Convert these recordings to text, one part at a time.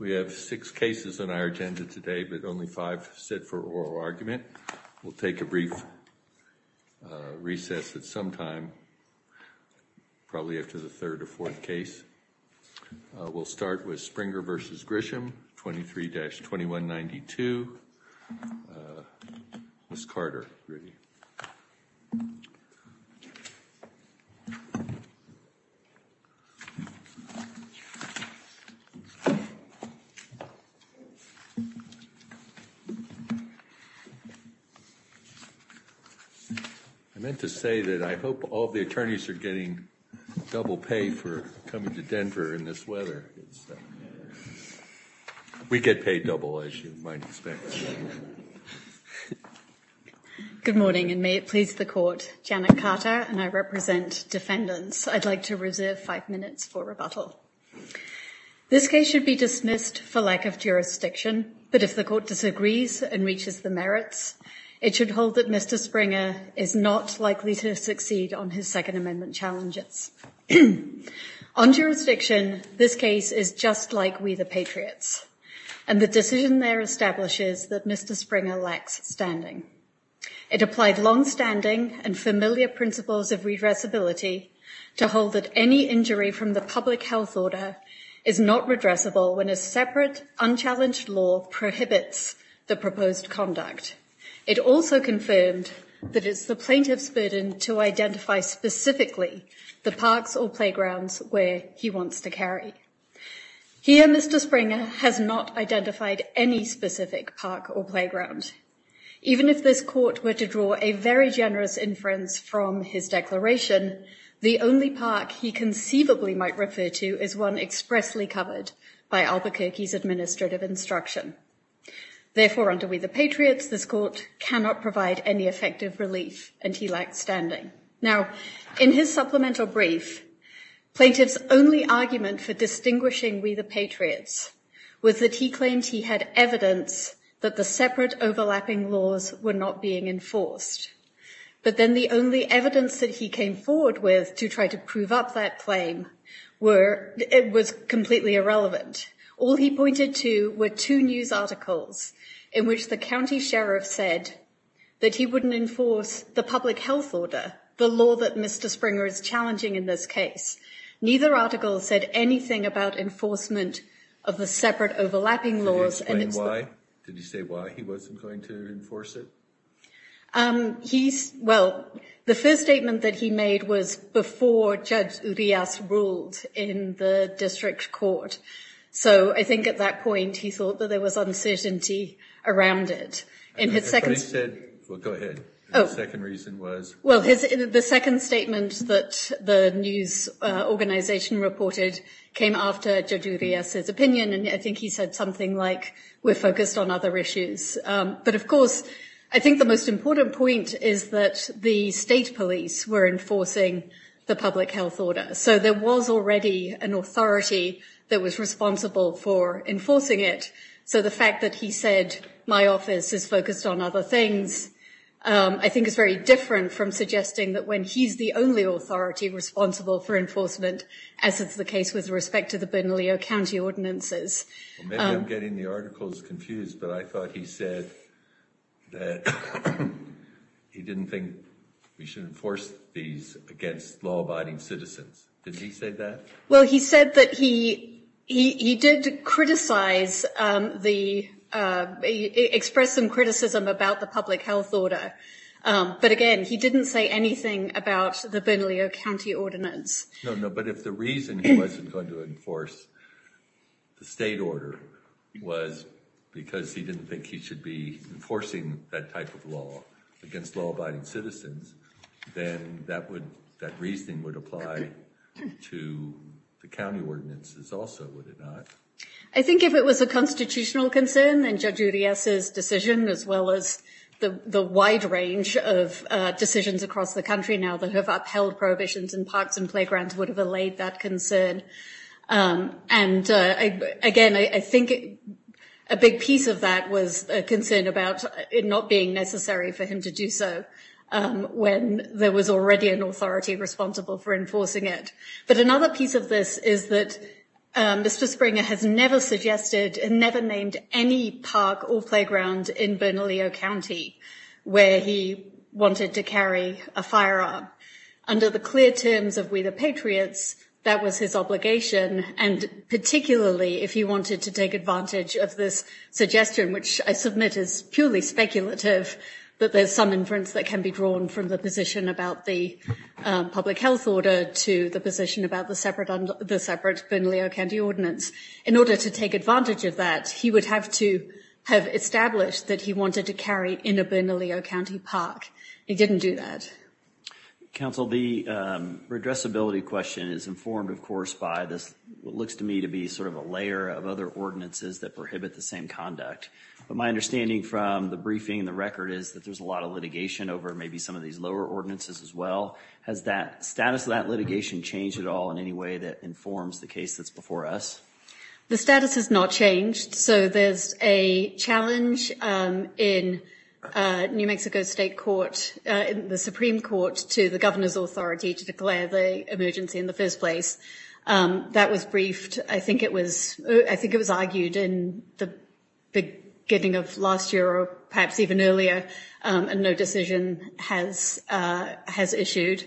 We have six cases on our agenda today, but only five sit for oral argument. We'll take a brief recess at some time, probably after the third or fourth case. We'll start with Springer v. Grisham, 23-2192. I meant to say that I hope all the attorneys are getting double pay for coming to Denver in this weather. We get paid double, as you might expect. Good morning, and may it please the Court. Janet Carter, and I represent defendants. I'd like to reserve five minutes for rebuttal. This case should be dismissed for lack of jurisdiction, but if the Court disagrees and reaches the merits, it should hold that Mr. Springer is not likely to succeed on his Second Amendment challenges. On jurisdiction, this case is just like We the Patriots, and the decision there establishes that Mr. Springer lacks standing. It applied longstanding and familiar principles of redressability to hold that any injury from the public health order is not redressable when a separate, unchallenged law prohibits the proposed conduct. It also confirmed that it's the plaintiff's burden to identify specifically the parks or playgrounds where he wants to carry. Here, Mr. Springer has not identified any specific park or playground. Even if this Court were to draw a very generous inference from his declaration, the only park he conceivably might refer to is one expressly covered by Albuquerque's administrative instruction. Therefore, under We the Patriots, this Court cannot provide any effective relief, and he lacked standing. Now, in his supplemental brief, plaintiff's only argument for distinguishing We the Patriots was that he claimed he had evidence that the separate, overlapping laws were not being enforced. But then the only evidence that he came forward with to try to prove up that claim was completely irrelevant. All he pointed to were two news articles in which the county sheriff said that he wouldn't enforce the public health order, the law that Mr. Springer is challenging in this case. Neither article said anything about enforcement of the separate, overlapping laws. Can you explain why? Did he say why he wasn't going to enforce it? He's, well, the first statement that he made was before Judge Urias ruled in the district court. So I think at that point he thought that there was uncertainty around it. And his second- Well, go ahead. Oh. The second reason was- Well, the second statement that the news organization reported came after Judge Urias' opinion, and I think he said something like, we're focused on other issues. But, of course, I think the most important point is that the state police were enforcing the public health order. So there was already an authority that was responsible for enforcing it. So the fact that he said, my office is focused on other things, I think, is very different from suggesting that when he's the only authority responsible for enforcement, as is the case with respect to the Benalio County ordinances. Maybe I'm getting the articles confused, but I thought he said that he didn't think we should enforce these against law-abiding citizens. Did he say that? Well, he said that he did criticize the- expressed some criticism about the public health order. But, again, he didn't say anything about the Benalio County ordinance. No, no, but if the reason he wasn't going to enforce the state order was because he didn't think he should be enforcing that type of law against law-abiding citizens, then that would- that reasoning would apply to the county ordinances also, would it not? I think if it was a constitutional concern, then Judge Urias' decision, as well as the wide range of decisions across the country now that have upheld prohibitions in parks and playgrounds, would have allayed that concern. And, again, I think a big piece of that was a concern about it not being necessary for him to do so when there was already an authority responsible for enforcing it. But another piece of this is that Mr. Springer has never suggested and never named any park or playground in Benalio County where he wanted to carry a firearm. Under the clear terms of We the Patriots, that was his obligation, and particularly if he wanted to take advantage of this suggestion, which I submit is purely speculative, that there's some inference that can be drawn from the position about the public health order to the position about the separate Benalio County ordinance. In order to take advantage of that, he would have to have established that he wanted to carry in a Benalio County park. He didn't do that. Counsel, the redressability question is informed, of course, by this, what looks to me to be sort of a layer of other ordinances that prohibit the same conduct. But my understanding from the briefing and the record is that there's a lot of litigation over maybe some of these lower ordinances as well. Has that status of that litigation changed at all in any way that informs the case that's before us? The status has not changed. So there's a challenge in New Mexico State Court, the Supreme Court, to the governor's authority to declare the emergency in the first place. That was briefed. I think it was I think it was argued in the beginning of last year or perhaps even earlier. And no decision has has issued.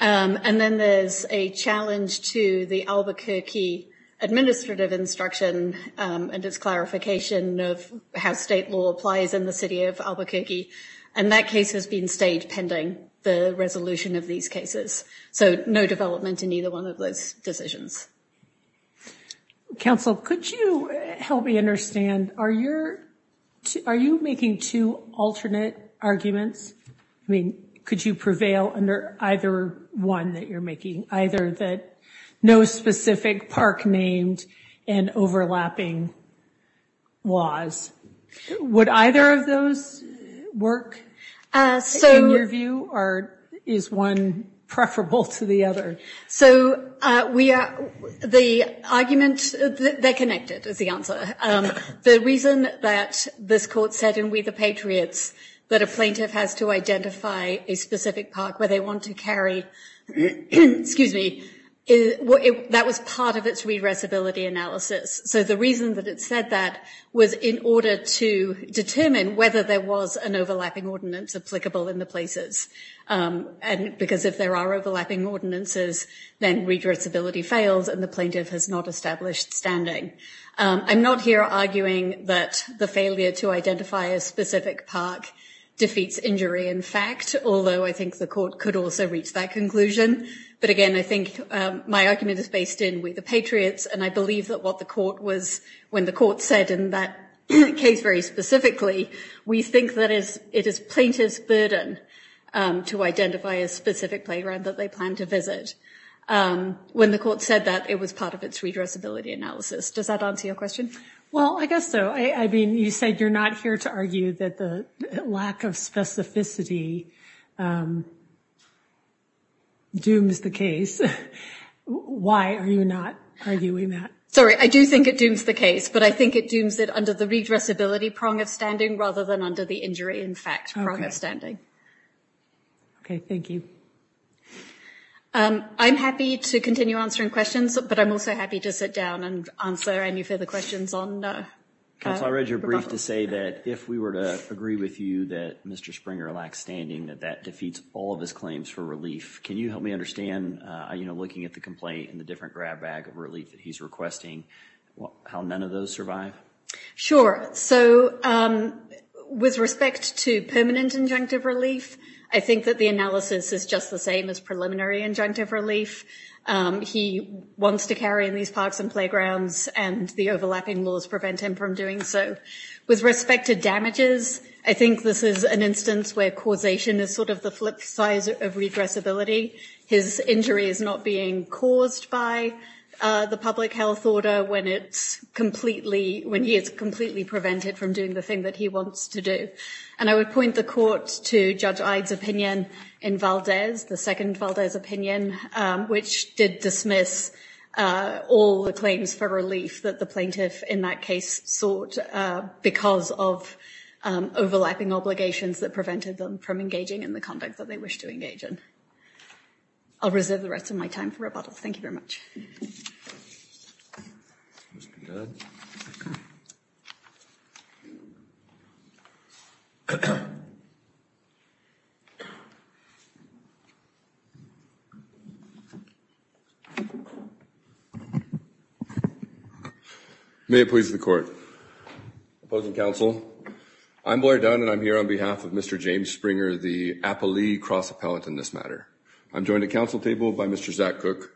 And then there's a challenge to the Albuquerque administrative instruction and its clarification of how state law applies in the city of Albuquerque. And that case has been stayed pending the resolution of these cases. So no development in either one of those decisions. Counsel, could you help me understand? Are you're are you making two alternate arguments? I mean, could you prevail under either one that you're making? Either that no specific park named and overlapping was. Would either of those work in your view? Or is one preferable to the other? So we are the argument that they're connected is the answer. The reason that this court said in We the Patriots that a plaintiff has to identify a specific park where they want to carry. Excuse me. Well, that was part of its read readability analysis. So the reason that it said that was in order to determine whether there was an overlapping ordinance applicable in the places. And because if there are overlapping ordinances, then read readability fails and the plaintiff has not established standing. I'm not here arguing that the failure to identify a specific park defeats injury. In fact, although I think the court could also reach that conclusion. But again, I think my argument is based in We the Patriots. And I believe that what the court was when the court said in that case very specifically, we think that is it is plaintiff's burden to identify a specific playground that they plan to visit. When the court said that it was part of its read readability analysis. Does that answer your question? Well, I guess so. I mean, you said you're not here to argue that the lack of specificity dooms the case. Why are you not arguing that? Sorry, I do think it dooms the case. But I think it dooms it under the read readability prong of standing rather than under the injury in fact prong of standing. OK, thank you. I'm happy to continue answering questions, but I'm also happy to sit down and answer any further questions on. I read your brief to say that if we were to agree with you that Mr. Springer lacks standing, that that defeats all of his claims for relief. Can you help me understand, you know, looking at the complaint and the different grab bag of relief that he's requesting, how none of those survive? Sure. So with respect to permanent injunctive relief, I think that the analysis is just the same as preliminary injunctive relief. He wants to carry in these parks and playgrounds and the overlapping laws prevent him from doing so. With respect to damages, I think this is an instance where causation is sort of the flip side of regressibility. His injury is not being caused by the public health order when it's completely when he is completely prevented from doing the thing that he wants to do. And I would point the court to Judge Ide's opinion in Valdez, the second Valdez opinion, which did dismiss all the claims for relief that the plaintiff in that case sought because of overlapping obligations that prevented them from engaging in the conduct that they wish to engage in. I'll reserve the rest of my time for rebuttal. Thank you very much. Mr. Judge. May it please the court. Opposing counsel. I'm Blair Dunn and I'm here on behalf of Mr. James Springer, the appellee cross appellant in this matter. I'm joined at council table by Mr. Zach Cook.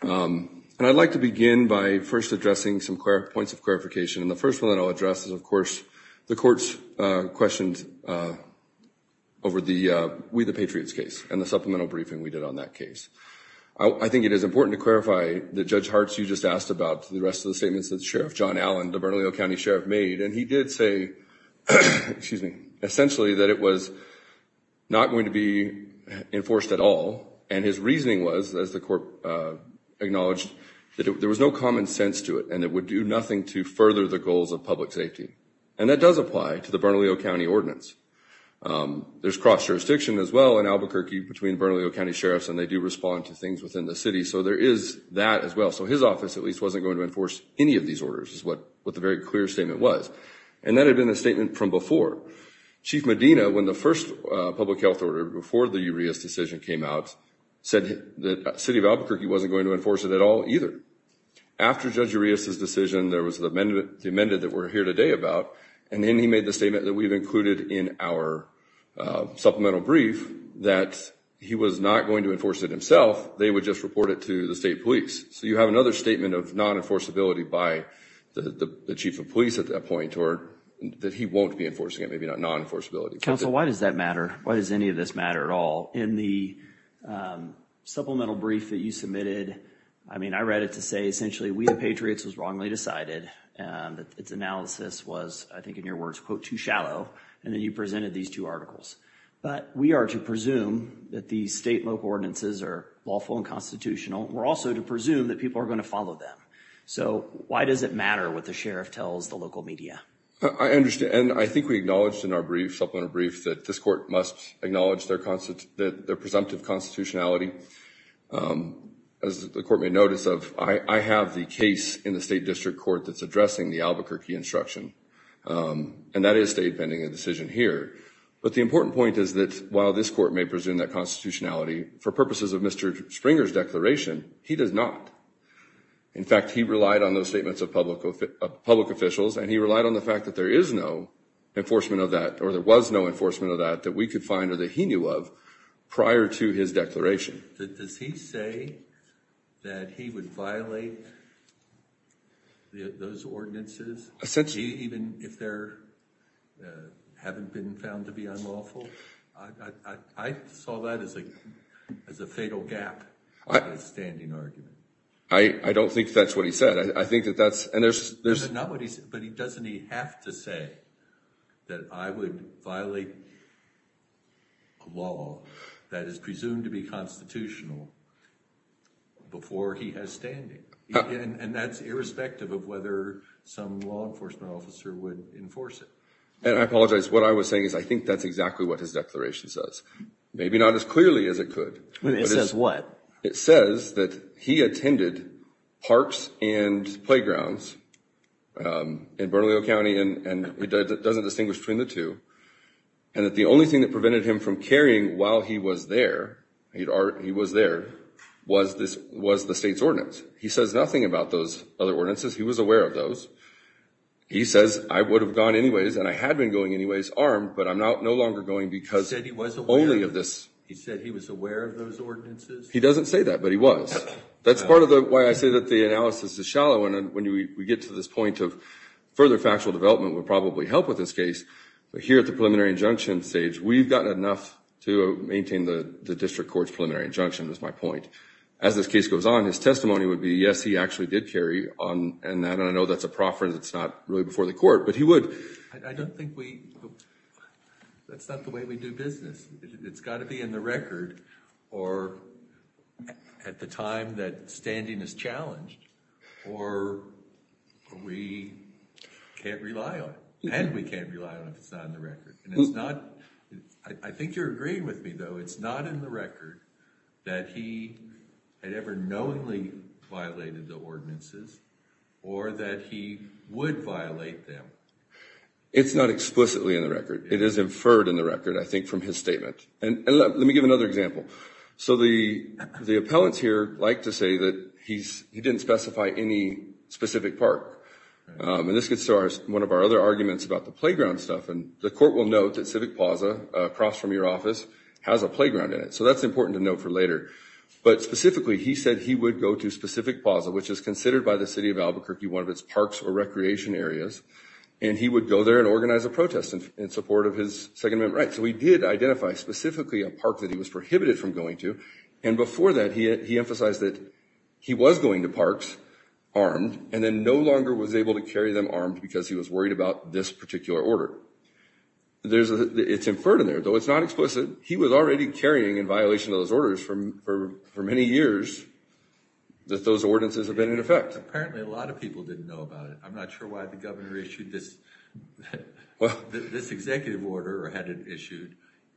And I'd like to begin by first addressing some points of clarification. And the first one I'll address is, of course, the court's questions over the We the Patriots case and the supplemental briefing we did on that case. I think it is important to clarify that Judge Hart's you just asked about the rest of the statements that Sheriff John Allen, the Bernalillo County Sheriff, made. And he did say, excuse me, essentially that it was not going to be enforced at all. And his reasoning was, as the court acknowledged, that there was no common sense to it and it would do nothing to further the goals of public safety. And that does apply to the Bernalillo County ordinance. There's cross jurisdiction as well in Albuquerque between Bernalillo County sheriffs and they do respond to things within the city. So there is that as well. So his office, at least, wasn't going to enforce any of these orders is what the very clear statement was. And that had been a statement from before. Chief Medina, when the first public health order before the Urias decision came out, said that the city of Albuquerque wasn't going to enforce it at all either. After Judge Urias' decision, there was the amendment that we're here today about. And then he made the statement that we've included in our supplemental brief that he was not going to enforce it himself. They would just report it to the state police. So you have another statement of non-enforceability by the chief of police at that point or that he won't be enforcing it. Maybe not non-enforceability. Council, why does that matter? Why does any of this matter at all? In the supplemental brief that you submitted, I mean, I read it to say essentially We the Patriots was wrongly decided. Its analysis was, I think in your words, quote, too shallow. And then you presented these two articles. But we are to presume that the state local ordinances are lawful and constitutional. We're also to presume that people are going to follow them. So why does it matter what the sheriff tells the local media? I understand. And I think we acknowledged in our brief, supplemental brief, that this court must acknowledge their presumptive constitutionality. As the court may notice, I have the case in the state district court that's addressing the Albuquerque instruction. And that is state pending a decision here. But the important point is that while this court may presume that constitutionality for purposes of Mr. Springer's declaration, he does not. In fact, he relied on those statements of public officials. And he relied on the fact that there is no enforcement of that or there was no enforcement of that that we could find or that he knew of prior to his declaration. Does he say that he would violate those ordinances, even if they haven't been found to be unlawful? I saw that as a fatal gap in his standing argument. I don't think that's what he said. I think that that's. But doesn't he have to say that I would violate a law that is presumed to be constitutional before he has standing? And that's irrespective of whether some law enforcement officer would enforce it. And I apologize. What I was saying is I think that's exactly what his declaration says. Maybe not as clearly as it could. It says what? It says that he attended parks and playgrounds in Bernalillo County and it doesn't distinguish between the two. And that the only thing that prevented him from carrying while he was there, he was there, was the state's ordinance. He says nothing about those other ordinances. He was aware of those. He says I would have gone anyways and I had been going anyways armed, but I'm no longer going because only of this. He said he was aware of those ordinances? He doesn't say that, but he was. That's part of the why I say that the analysis is shallow. And when we get to this point of further factual development would probably help with this case. But here at the preliminary injunction stage, we've got enough to maintain the district court's preliminary injunction is my point. As this case goes on, his testimony would be, yes, he actually did carry on. And I know that's a profference. It's not really before the court, but he would. I don't think we. That's not the way we do business. It's got to be in the record or at the time that standing is challenged or we can't rely on it. And we can't rely on if it's not in the record. And it's not. I think you're agreeing with me, though. It's not in the record that he had ever knowingly violated the ordinances or that he would violate them. It's not explicitly in the record. It is inferred in the record, I think, from his statement. And let me give another example. So the the appellants here like to say that he's he didn't specify any specific park. And this gets to one of our other arguments about the playground stuff. And the court will note that Civic Plaza across from your office has a playground in it. So that's important to note for later. But specifically, he said he would go to specific Plaza, which is considered by the city of Albuquerque, one of its parks or recreation areas. And he would go there and organize a protest in support of his segment. Right. So we did identify specifically a park that he was prohibited from going to. And before that, he emphasized that he was going to parks armed and then no longer was able to carry them armed because he was worried about this particular order. There's it's inferred in there, though it's not explicit. He was already carrying in violation of those orders from for many years that those ordinances have been in effect. Apparently, a lot of people didn't know about it. I'm not sure why the governor issued this. Well, this executive order or had it issued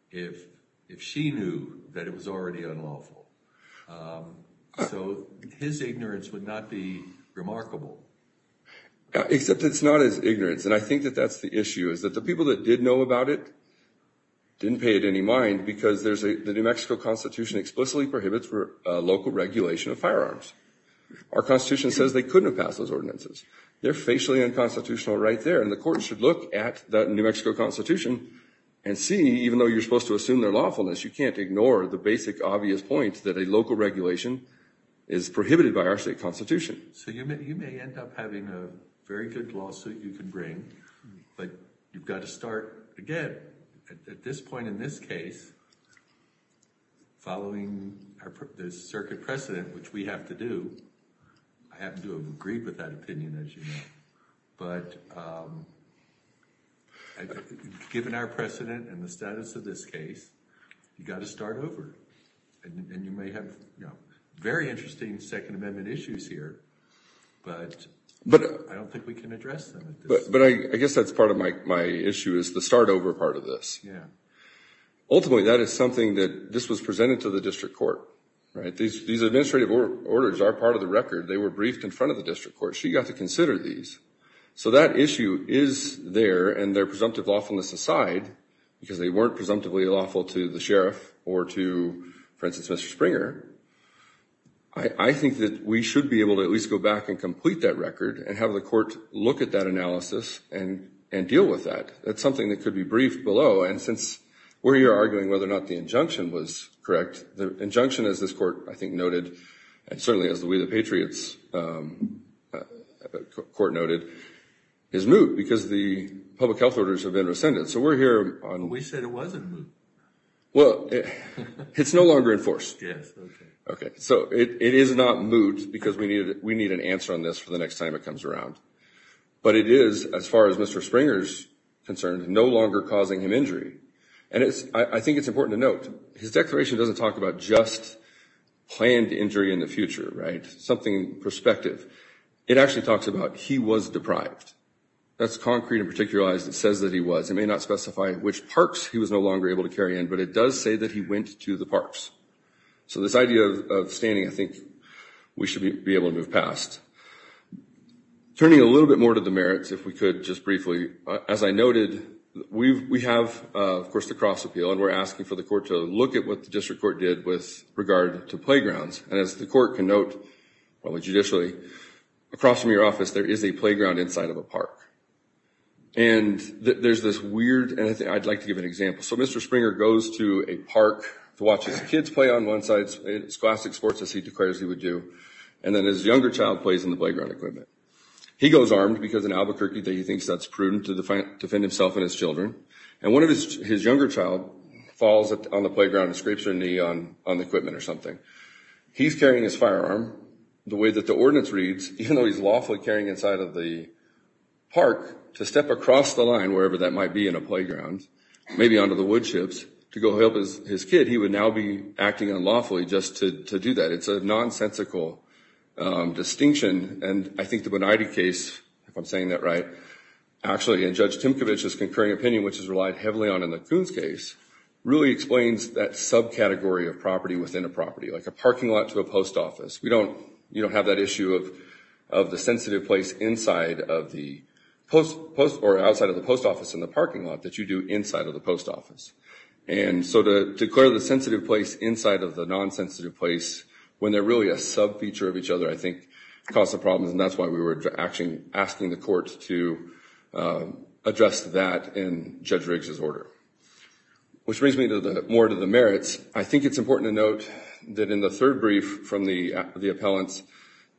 if if she knew that it was already unlawful. So his ignorance would not be remarkable. Except it's not as ignorant. And I think that that's the issue is that the people that did know about it. Didn't pay it any mind because there's the New Mexico Constitution explicitly prohibits for local regulation of firearms. Our Constitution says they couldn't pass those ordinances. They're facially unconstitutional right there. And the court should look at the New Mexico Constitution and see, even though you're supposed to assume their lawfulness, you can't ignore the basic obvious point that a local regulation is prohibited by our state constitution. So you may end up having a very good lawsuit you can bring, but you've got to start again at this point in this case. Following the circuit precedent, which we have to do, I have to agree with that opinion, as you know. But given our precedent and the status of this case, you've got to start over. And you may have very interesting Second Amendment issues here, but I don't think we can address them. But I guess that's part of my issue is the start over part of this. Ultimately, that is something that this was presented to the district court. These administrative orders are part of the record. They were briefed in front of the district court. She got to consider these. So that issue is there. And their presumptive lawfulness aside, because they weren't presumptively lawful to the sheriff or to, for instance, Mr. Springer, I think that we should be able to at least go back and complete that record and have the court look at that analysis and deal with that. That's something that could be briefed below. And since we're here arguing whether or not the injunction was correct, the injunction, as this court, I think, noted, and certainly as the We the Patriots court noted, is moot, because the public health orders have been rescinded. So we're here on- We said it wasn't moot. Well, it's no longer in force. Yes. Okay. Okay. So it is not moot, because we need an answer on this for the next time it comes around. But it is, as far as Mr. Springer's concerned, no longer causing him injury. And I think it's important to note, his declaration doesn't talk about just planned injury in the future, right? Something in perspective. It actually talks about he was deprived. That's concrete and particularized. It says that he was. It may not specify which parks he was no longer able to carry in, but it does say that he went to the parks. So this idea of standing, I think we should be able to move past. Turning a little bit more to the merits, if we could, just briefly. As I noted, we have, of course, the Cross Appeal, and we're asking for the court to look at what the district court did with regard to playgrounds. And as the court can note, well, judicially, across from your office, there is a playground inside of a park. And there's this weird- and I'd like to give an example. So Mr. Springer goes to a park to watch his kids play on one side. It's classic sports, as he declares he would do. And then his younger child plays in the playground equipment. He goes armed because in Albuquerque he thinks that's prudent to defend himself and his children. And one of his younger child falls on the playground and scrapes their knee on the equipment or something. He's carrying his firearm the way that the ordinance reads, even though he's lawfully carrying it inside of the park, to step across the line, wherever that might be in a playground, maybe onto the wood chips, to go help his kid. He would now be acting unlawfully just to do that. It's a nonsensical distinction. And I think the Bonatti case, if I'm saying that right, actually, in Judge Timkovich's concurring opinion, which is relied heavily on in the Coons case, really explains that subcategory of property within a property, like a parking lot to a post office. You don't have that issue of the sensitive place inside of the post or outside of the post office in the parking lot that you do inside of the post office. And so to declare the sensitive place inside of the nonsensitive place, when they're really a sub-feature of each other, I think, causes problems. And that's why we were actually asking the court to address that in Judge Riggs's order. Which brings me more to the merits. I think it's important to note that in the third brief from the appellants,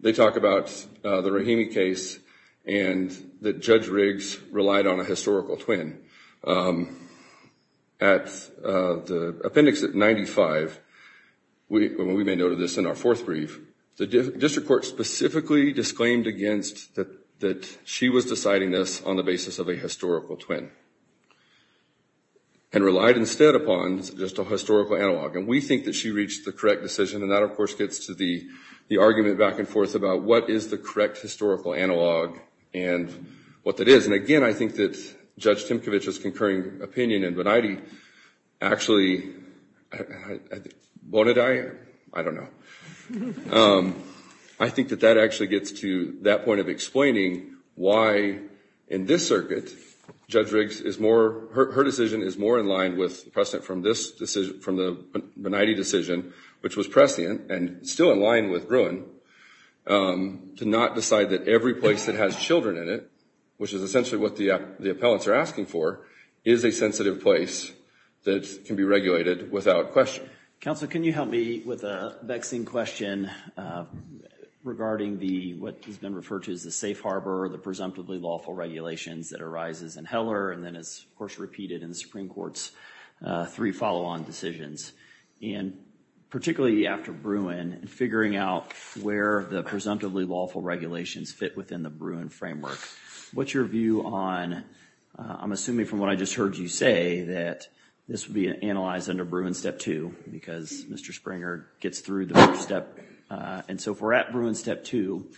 they talk about the Rahimi case and that Judge Riggs relied on a historical twin. At the appendix at 95, we may note this in our fourth brief, the district court specifically disclaimed against that she was deciding this on the basis of a historical twin. And relied instead upon just a historical analog. And we think that she reached the correct decision. And that, of course, gets to the argument back and forth about what is the correct historical analog and what that is. And again, I think that Judge Timkovich's concurring opinion and Bonadie actually, Bonadie, I don't know. I think that that actually gets to that point of explaining why in this circuit Judge Riggs is more, her decision is more in line with the precedent from this decision, from the Bonadie decision, which was prescient and still in line with Gruen, to not decide that every place that has children in it, which is essentially what the appellants are asking for, is a sensitive place that can be regulated without question. Counsel, can you help me with a vexing question regarding what has been referred to as the safe harbor, the presumptively lawful regulations that arises in Heller, and then is, of course, repeated in the Supreme Court's three follow-on decisions. And particularly after Gruen, figuring out where the presumptively lawful regulations fit within the Gruen framework. What's your view on, I'm assuming from what I just heard you say, that this would be analyzed under Gruen Step 2, because Mr. Springer gets through the first step. And so if we're at Gruen Step 2,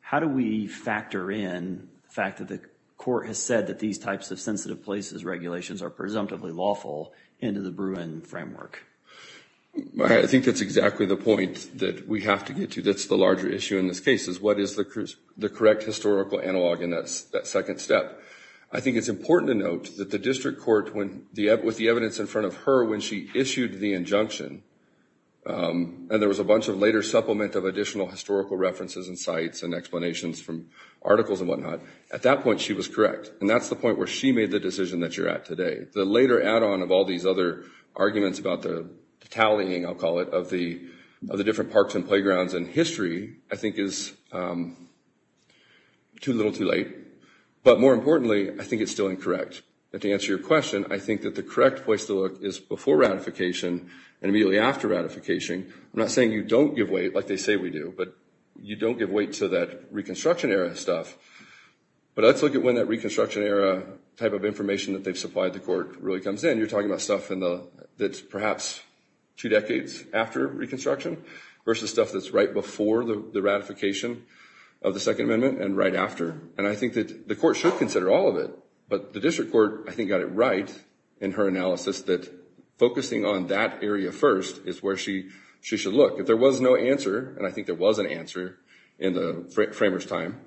how do we factor in the fact that the court has said that these types of sensitive places regulations are presumptively lawful into the Gruen framework? I think that's exactly the point that we have to get to. That's the larger issue in this case, is what is the correct historical analog in that second step. I think it's important to note that the district court, with the evidence in front of her, when she issued the injunction, and there was a bunch of later supplement of additional historical references and sites and explanations from articles and whatnot, at that point she was correct. And that's the point where she made the decision that you're at today. The later add-on of all these other arguments about the tallying, I'll call it, of the different parks and playgrounds in history, I think is too little too late. But more importantly, I think it's still incorrect. And to answer your question, I think that the correct place to look is before ratification and immediately after ratification. I'm not saying you don't give weight, like they say we do, but you don't give weight to that Reconstruction era stuff. But let's look at when that Reconstruction era type of information that they've supplied the court really comes in. You're talking about stuff that's perhaps two decades after Reconstruction versus stuff that's right before the ratification of the Second Amendment and right after. And I think that the court should consider all of it. But the district court, I think, got it right in her analysis that focusing on that area first is where she should look. If there was no answer, and I think there was an answer in the framers' time,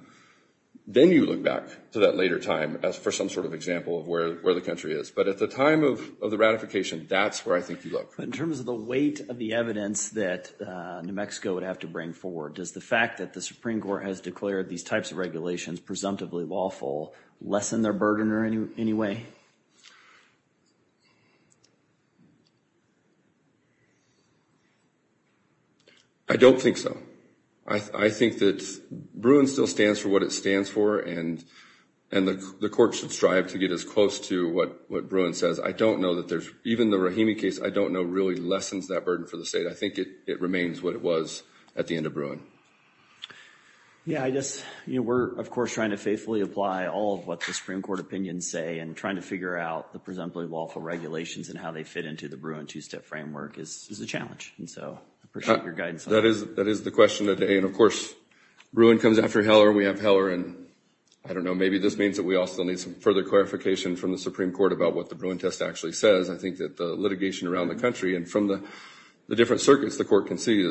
then you look back to that later time for some sort of example of where the country is. But at the time of the ratification, that's where I think you look. But in terms of the weight of the evidence that New Mexico would have to bring forward, does the fact that the Supreme Court has declared these types of regulations presumptively lawful lessen their burden in any way? I don't think so. I think that BRUIN still stands for what it stands for, and the court should strive to get as close to what BRUIN says. I don't know that there's, even the Rahimi case, I don't know, really lessens that burden for the state. I think it remains what it was at the end of BRUIN. Yeah, I guess, you know, we're of course trying to faithfully apply all of what the Supreme Court opinions say and trying to figure out the presumptively lawful regulations and how they fit into the BRUIN two-step framework is a challenge. And so I appreciate your guidance on that. That is the question of the day. And of course, BRUIN comes after Heller, and we have Heller, and I don't know, maybe this means that we also need some further clarification from the Supreme Court about what the BRUIN test actually says. I think that the litigation around the country and from the different circuits the court can see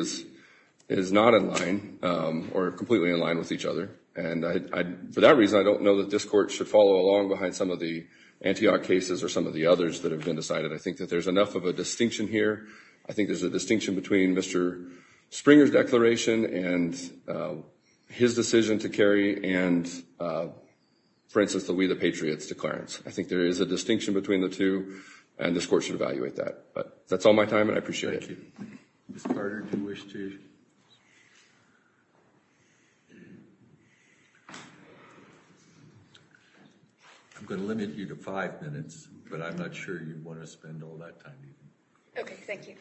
is not in line or completely in line with each other. And for that reason, I don't know that this court should follow along behind some of the Antioch cases or some of the others that have been decided. I think that there's enough of a distinction here. I think there's a distinction between Mr. Springer's declaration and his decision to carry and, for instance, the We the Patriots declarants. I think there is a distinction between the two, and this court should evaluate that. But that's all my time, and I appreciate it. Thank you. Ms. Carter, do you wish to? I'm going to limit you to five minutes, but I'm not sure you'd want to spend all that time. Okay, thank you.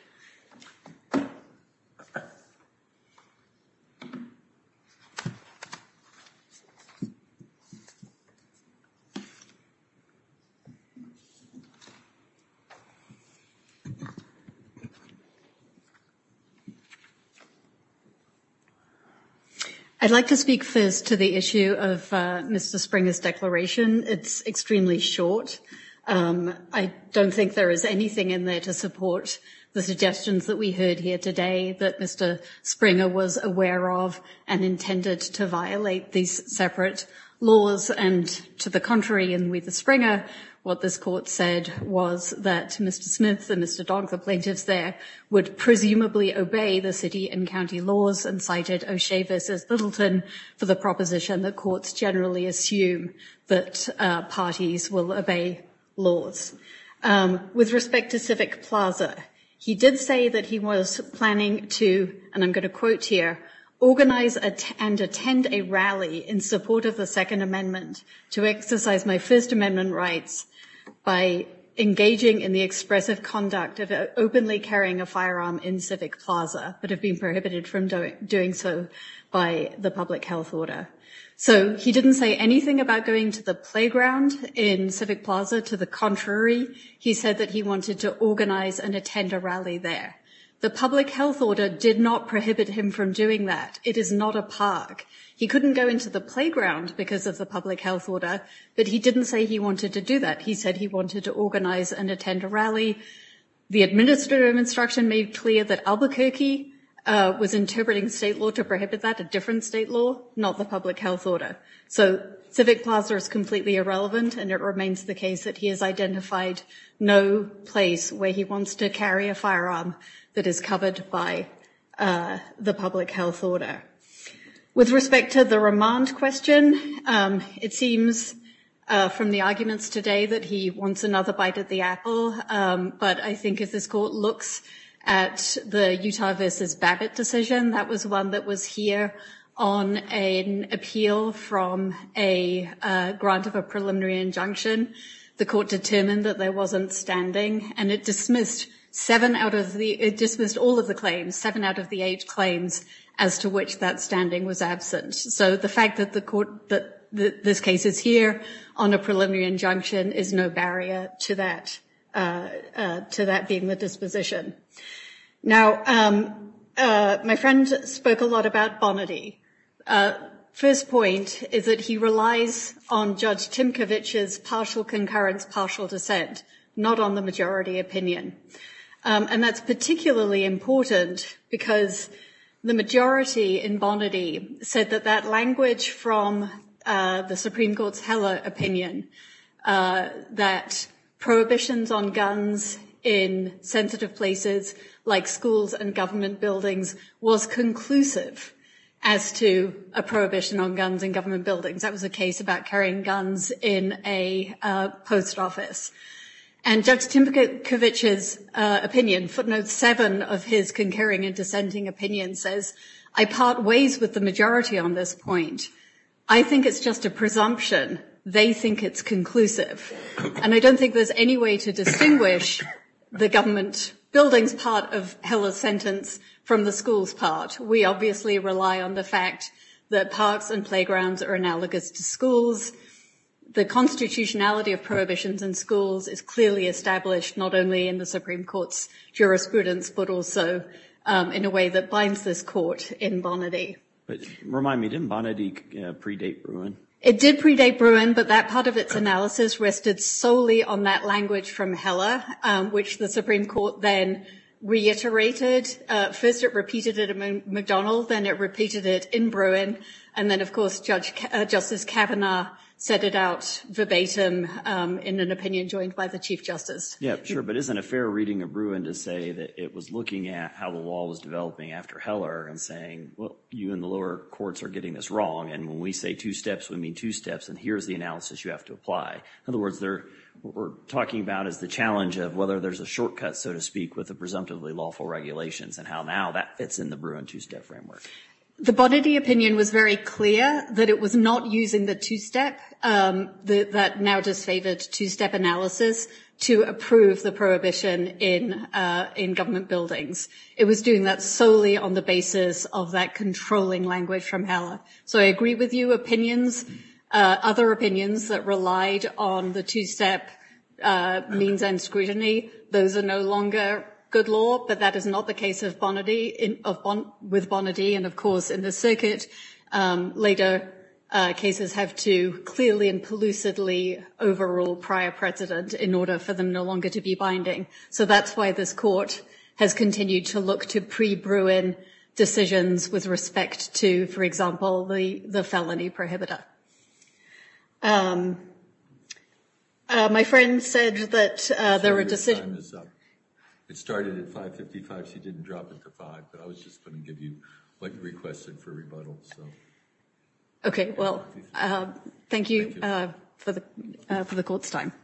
I'd like to speak first to the issue of Mr. Springer's declaration. It's extremely short. I don't think there is anything in there to support the suggestions that we heard here today that Mr. Springer was aware of and intended to violate these separate laws. And to the contrary, in We the Springer, what this court said was that Mr. Smith and Mr. Springer and Mr. Dodd, the plaintiffs there, would presumably obey the city and county laws and cited O'Shea v. Littleton for the proposition that courts generally assume that parties will obey laws. With respect to Civic Plaza, he did say that he was planning to, and I'm going to quote here, organize and attend a rally in support of the Second Amendment to exercise my First Amendment rights by engaging in the expressive conduct of openly carrying a firearm in Civic Plaza but have been prohibited from doing so by the public health order. So he didn't say anything about going to the playground in Civic Plaza. To the contrary, he said that he wanted to organize and attend a rally there. The public health order did not prohibit him from doing that. It is not a park. He couldn't go into the playground because of the public health order, but he didn't say he wanted to do that. He said he wanted to organize and attend a rally. The administrative instruction made clear that Albuquerque was interpreting state law to prohibit that, a different state law, not the public health order. So Civic Plaza is completely irrelevant, and it remains the case that he has identified no place where he wants to carry a firearm that is covered by the public health order. With respect to the remand question, it seems from the arguments today that he wants another bite at the apple, but I think if this court looks at the Utah versus Babbitt decision, that was one that was here on an appeal from a grant of a preliminary injunction. The court determined that there wasn't standing, and it dismissed seven out of the ‑‑ it dismissed all of the claims, seven out of the eight claims as to which that standing was absent. So the fact that the court ‑‑ that this case is here on a preliminary injunction is no barrier to that being the disposition. Now, my friend spoke a lot about Bonnady. First point is that he relies on Judge Timkovich's partial concurrence, partial dissent, not on the majority opinion, and that's particularly important because the majority in Bonnady said that that language from the Supreme Court's Heller opinion, that prohibitions on guns in sensitive places like schools and government buildings was conclusive as to a prohibition on guns in government buildings. That was a case about carrying guns in a post office. And Judge Timkovich's opinion, footnote seven of his concurring and dissenting opinion says, I part ways with the majority on this point. I think it's just a presumption. They think it's conclusive. And I don't think there's any way to distinguish the government buildings part of Heller's sentence from the schools part. We obviously rely on the fact that parks and playgrounds are analogous to schools. The constitutionality of prohibitions in schools is clearly established not only in the Supreme Court's jurisprudence, but also in a way that binds this court in Bonnady. Remind me, didn't Bonnady predate Bruin? It did predate Bruin, but that part of its analysis rested solely on that language from Heller, which the Supreme Court then reiterated. First it repeated it at McDonald, then it repeated it in Bruin, and then of course Justice Kavanaugh set it out verbatim in an opinion joined by the Chief Justice. Yeah, sure. But isn't a fair reading of Bruin to say that it was looking at how the law was developing after Heller and saying, well, you and the lower courts are getting this wrong, and when we say two steps, we mean two steps, and here's the analysis you have to apply. In other words, what we're talking about is the challenge of whether there's a shortcut, so to speak, with the presumptively lawful regulations and how now that fits in the Bruin two-step framework. The Bonnady opinion was very clear that it was not using the two-step that now disfavored two-step analysis to approve the prohibition in government buildings. It was doing that solely on the basis of that controlling language from Heller. So I agree with you, opinions, other opinions that relied on the two-step means and scrutiny, those are no longer good law, but that is not the case with Bonnady. And, of course, in the circuit, later cases have to clearly and pellucidly overrule prior precedent in order for them no longer to be binding. So that's why this court has continued to look to pre-Bruin decisions with respect to, for example, the felony prohibitor. My friend said that there were decisions- It started at 5.55, she didn't drop it to 5, but I was just going to give you what you requested for rebuttal. Okay, well, thank you for the court's time. Thank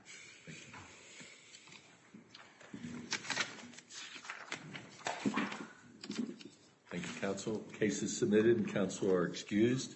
you, counsel. Case is submitted. Counsel are excused. Thank you.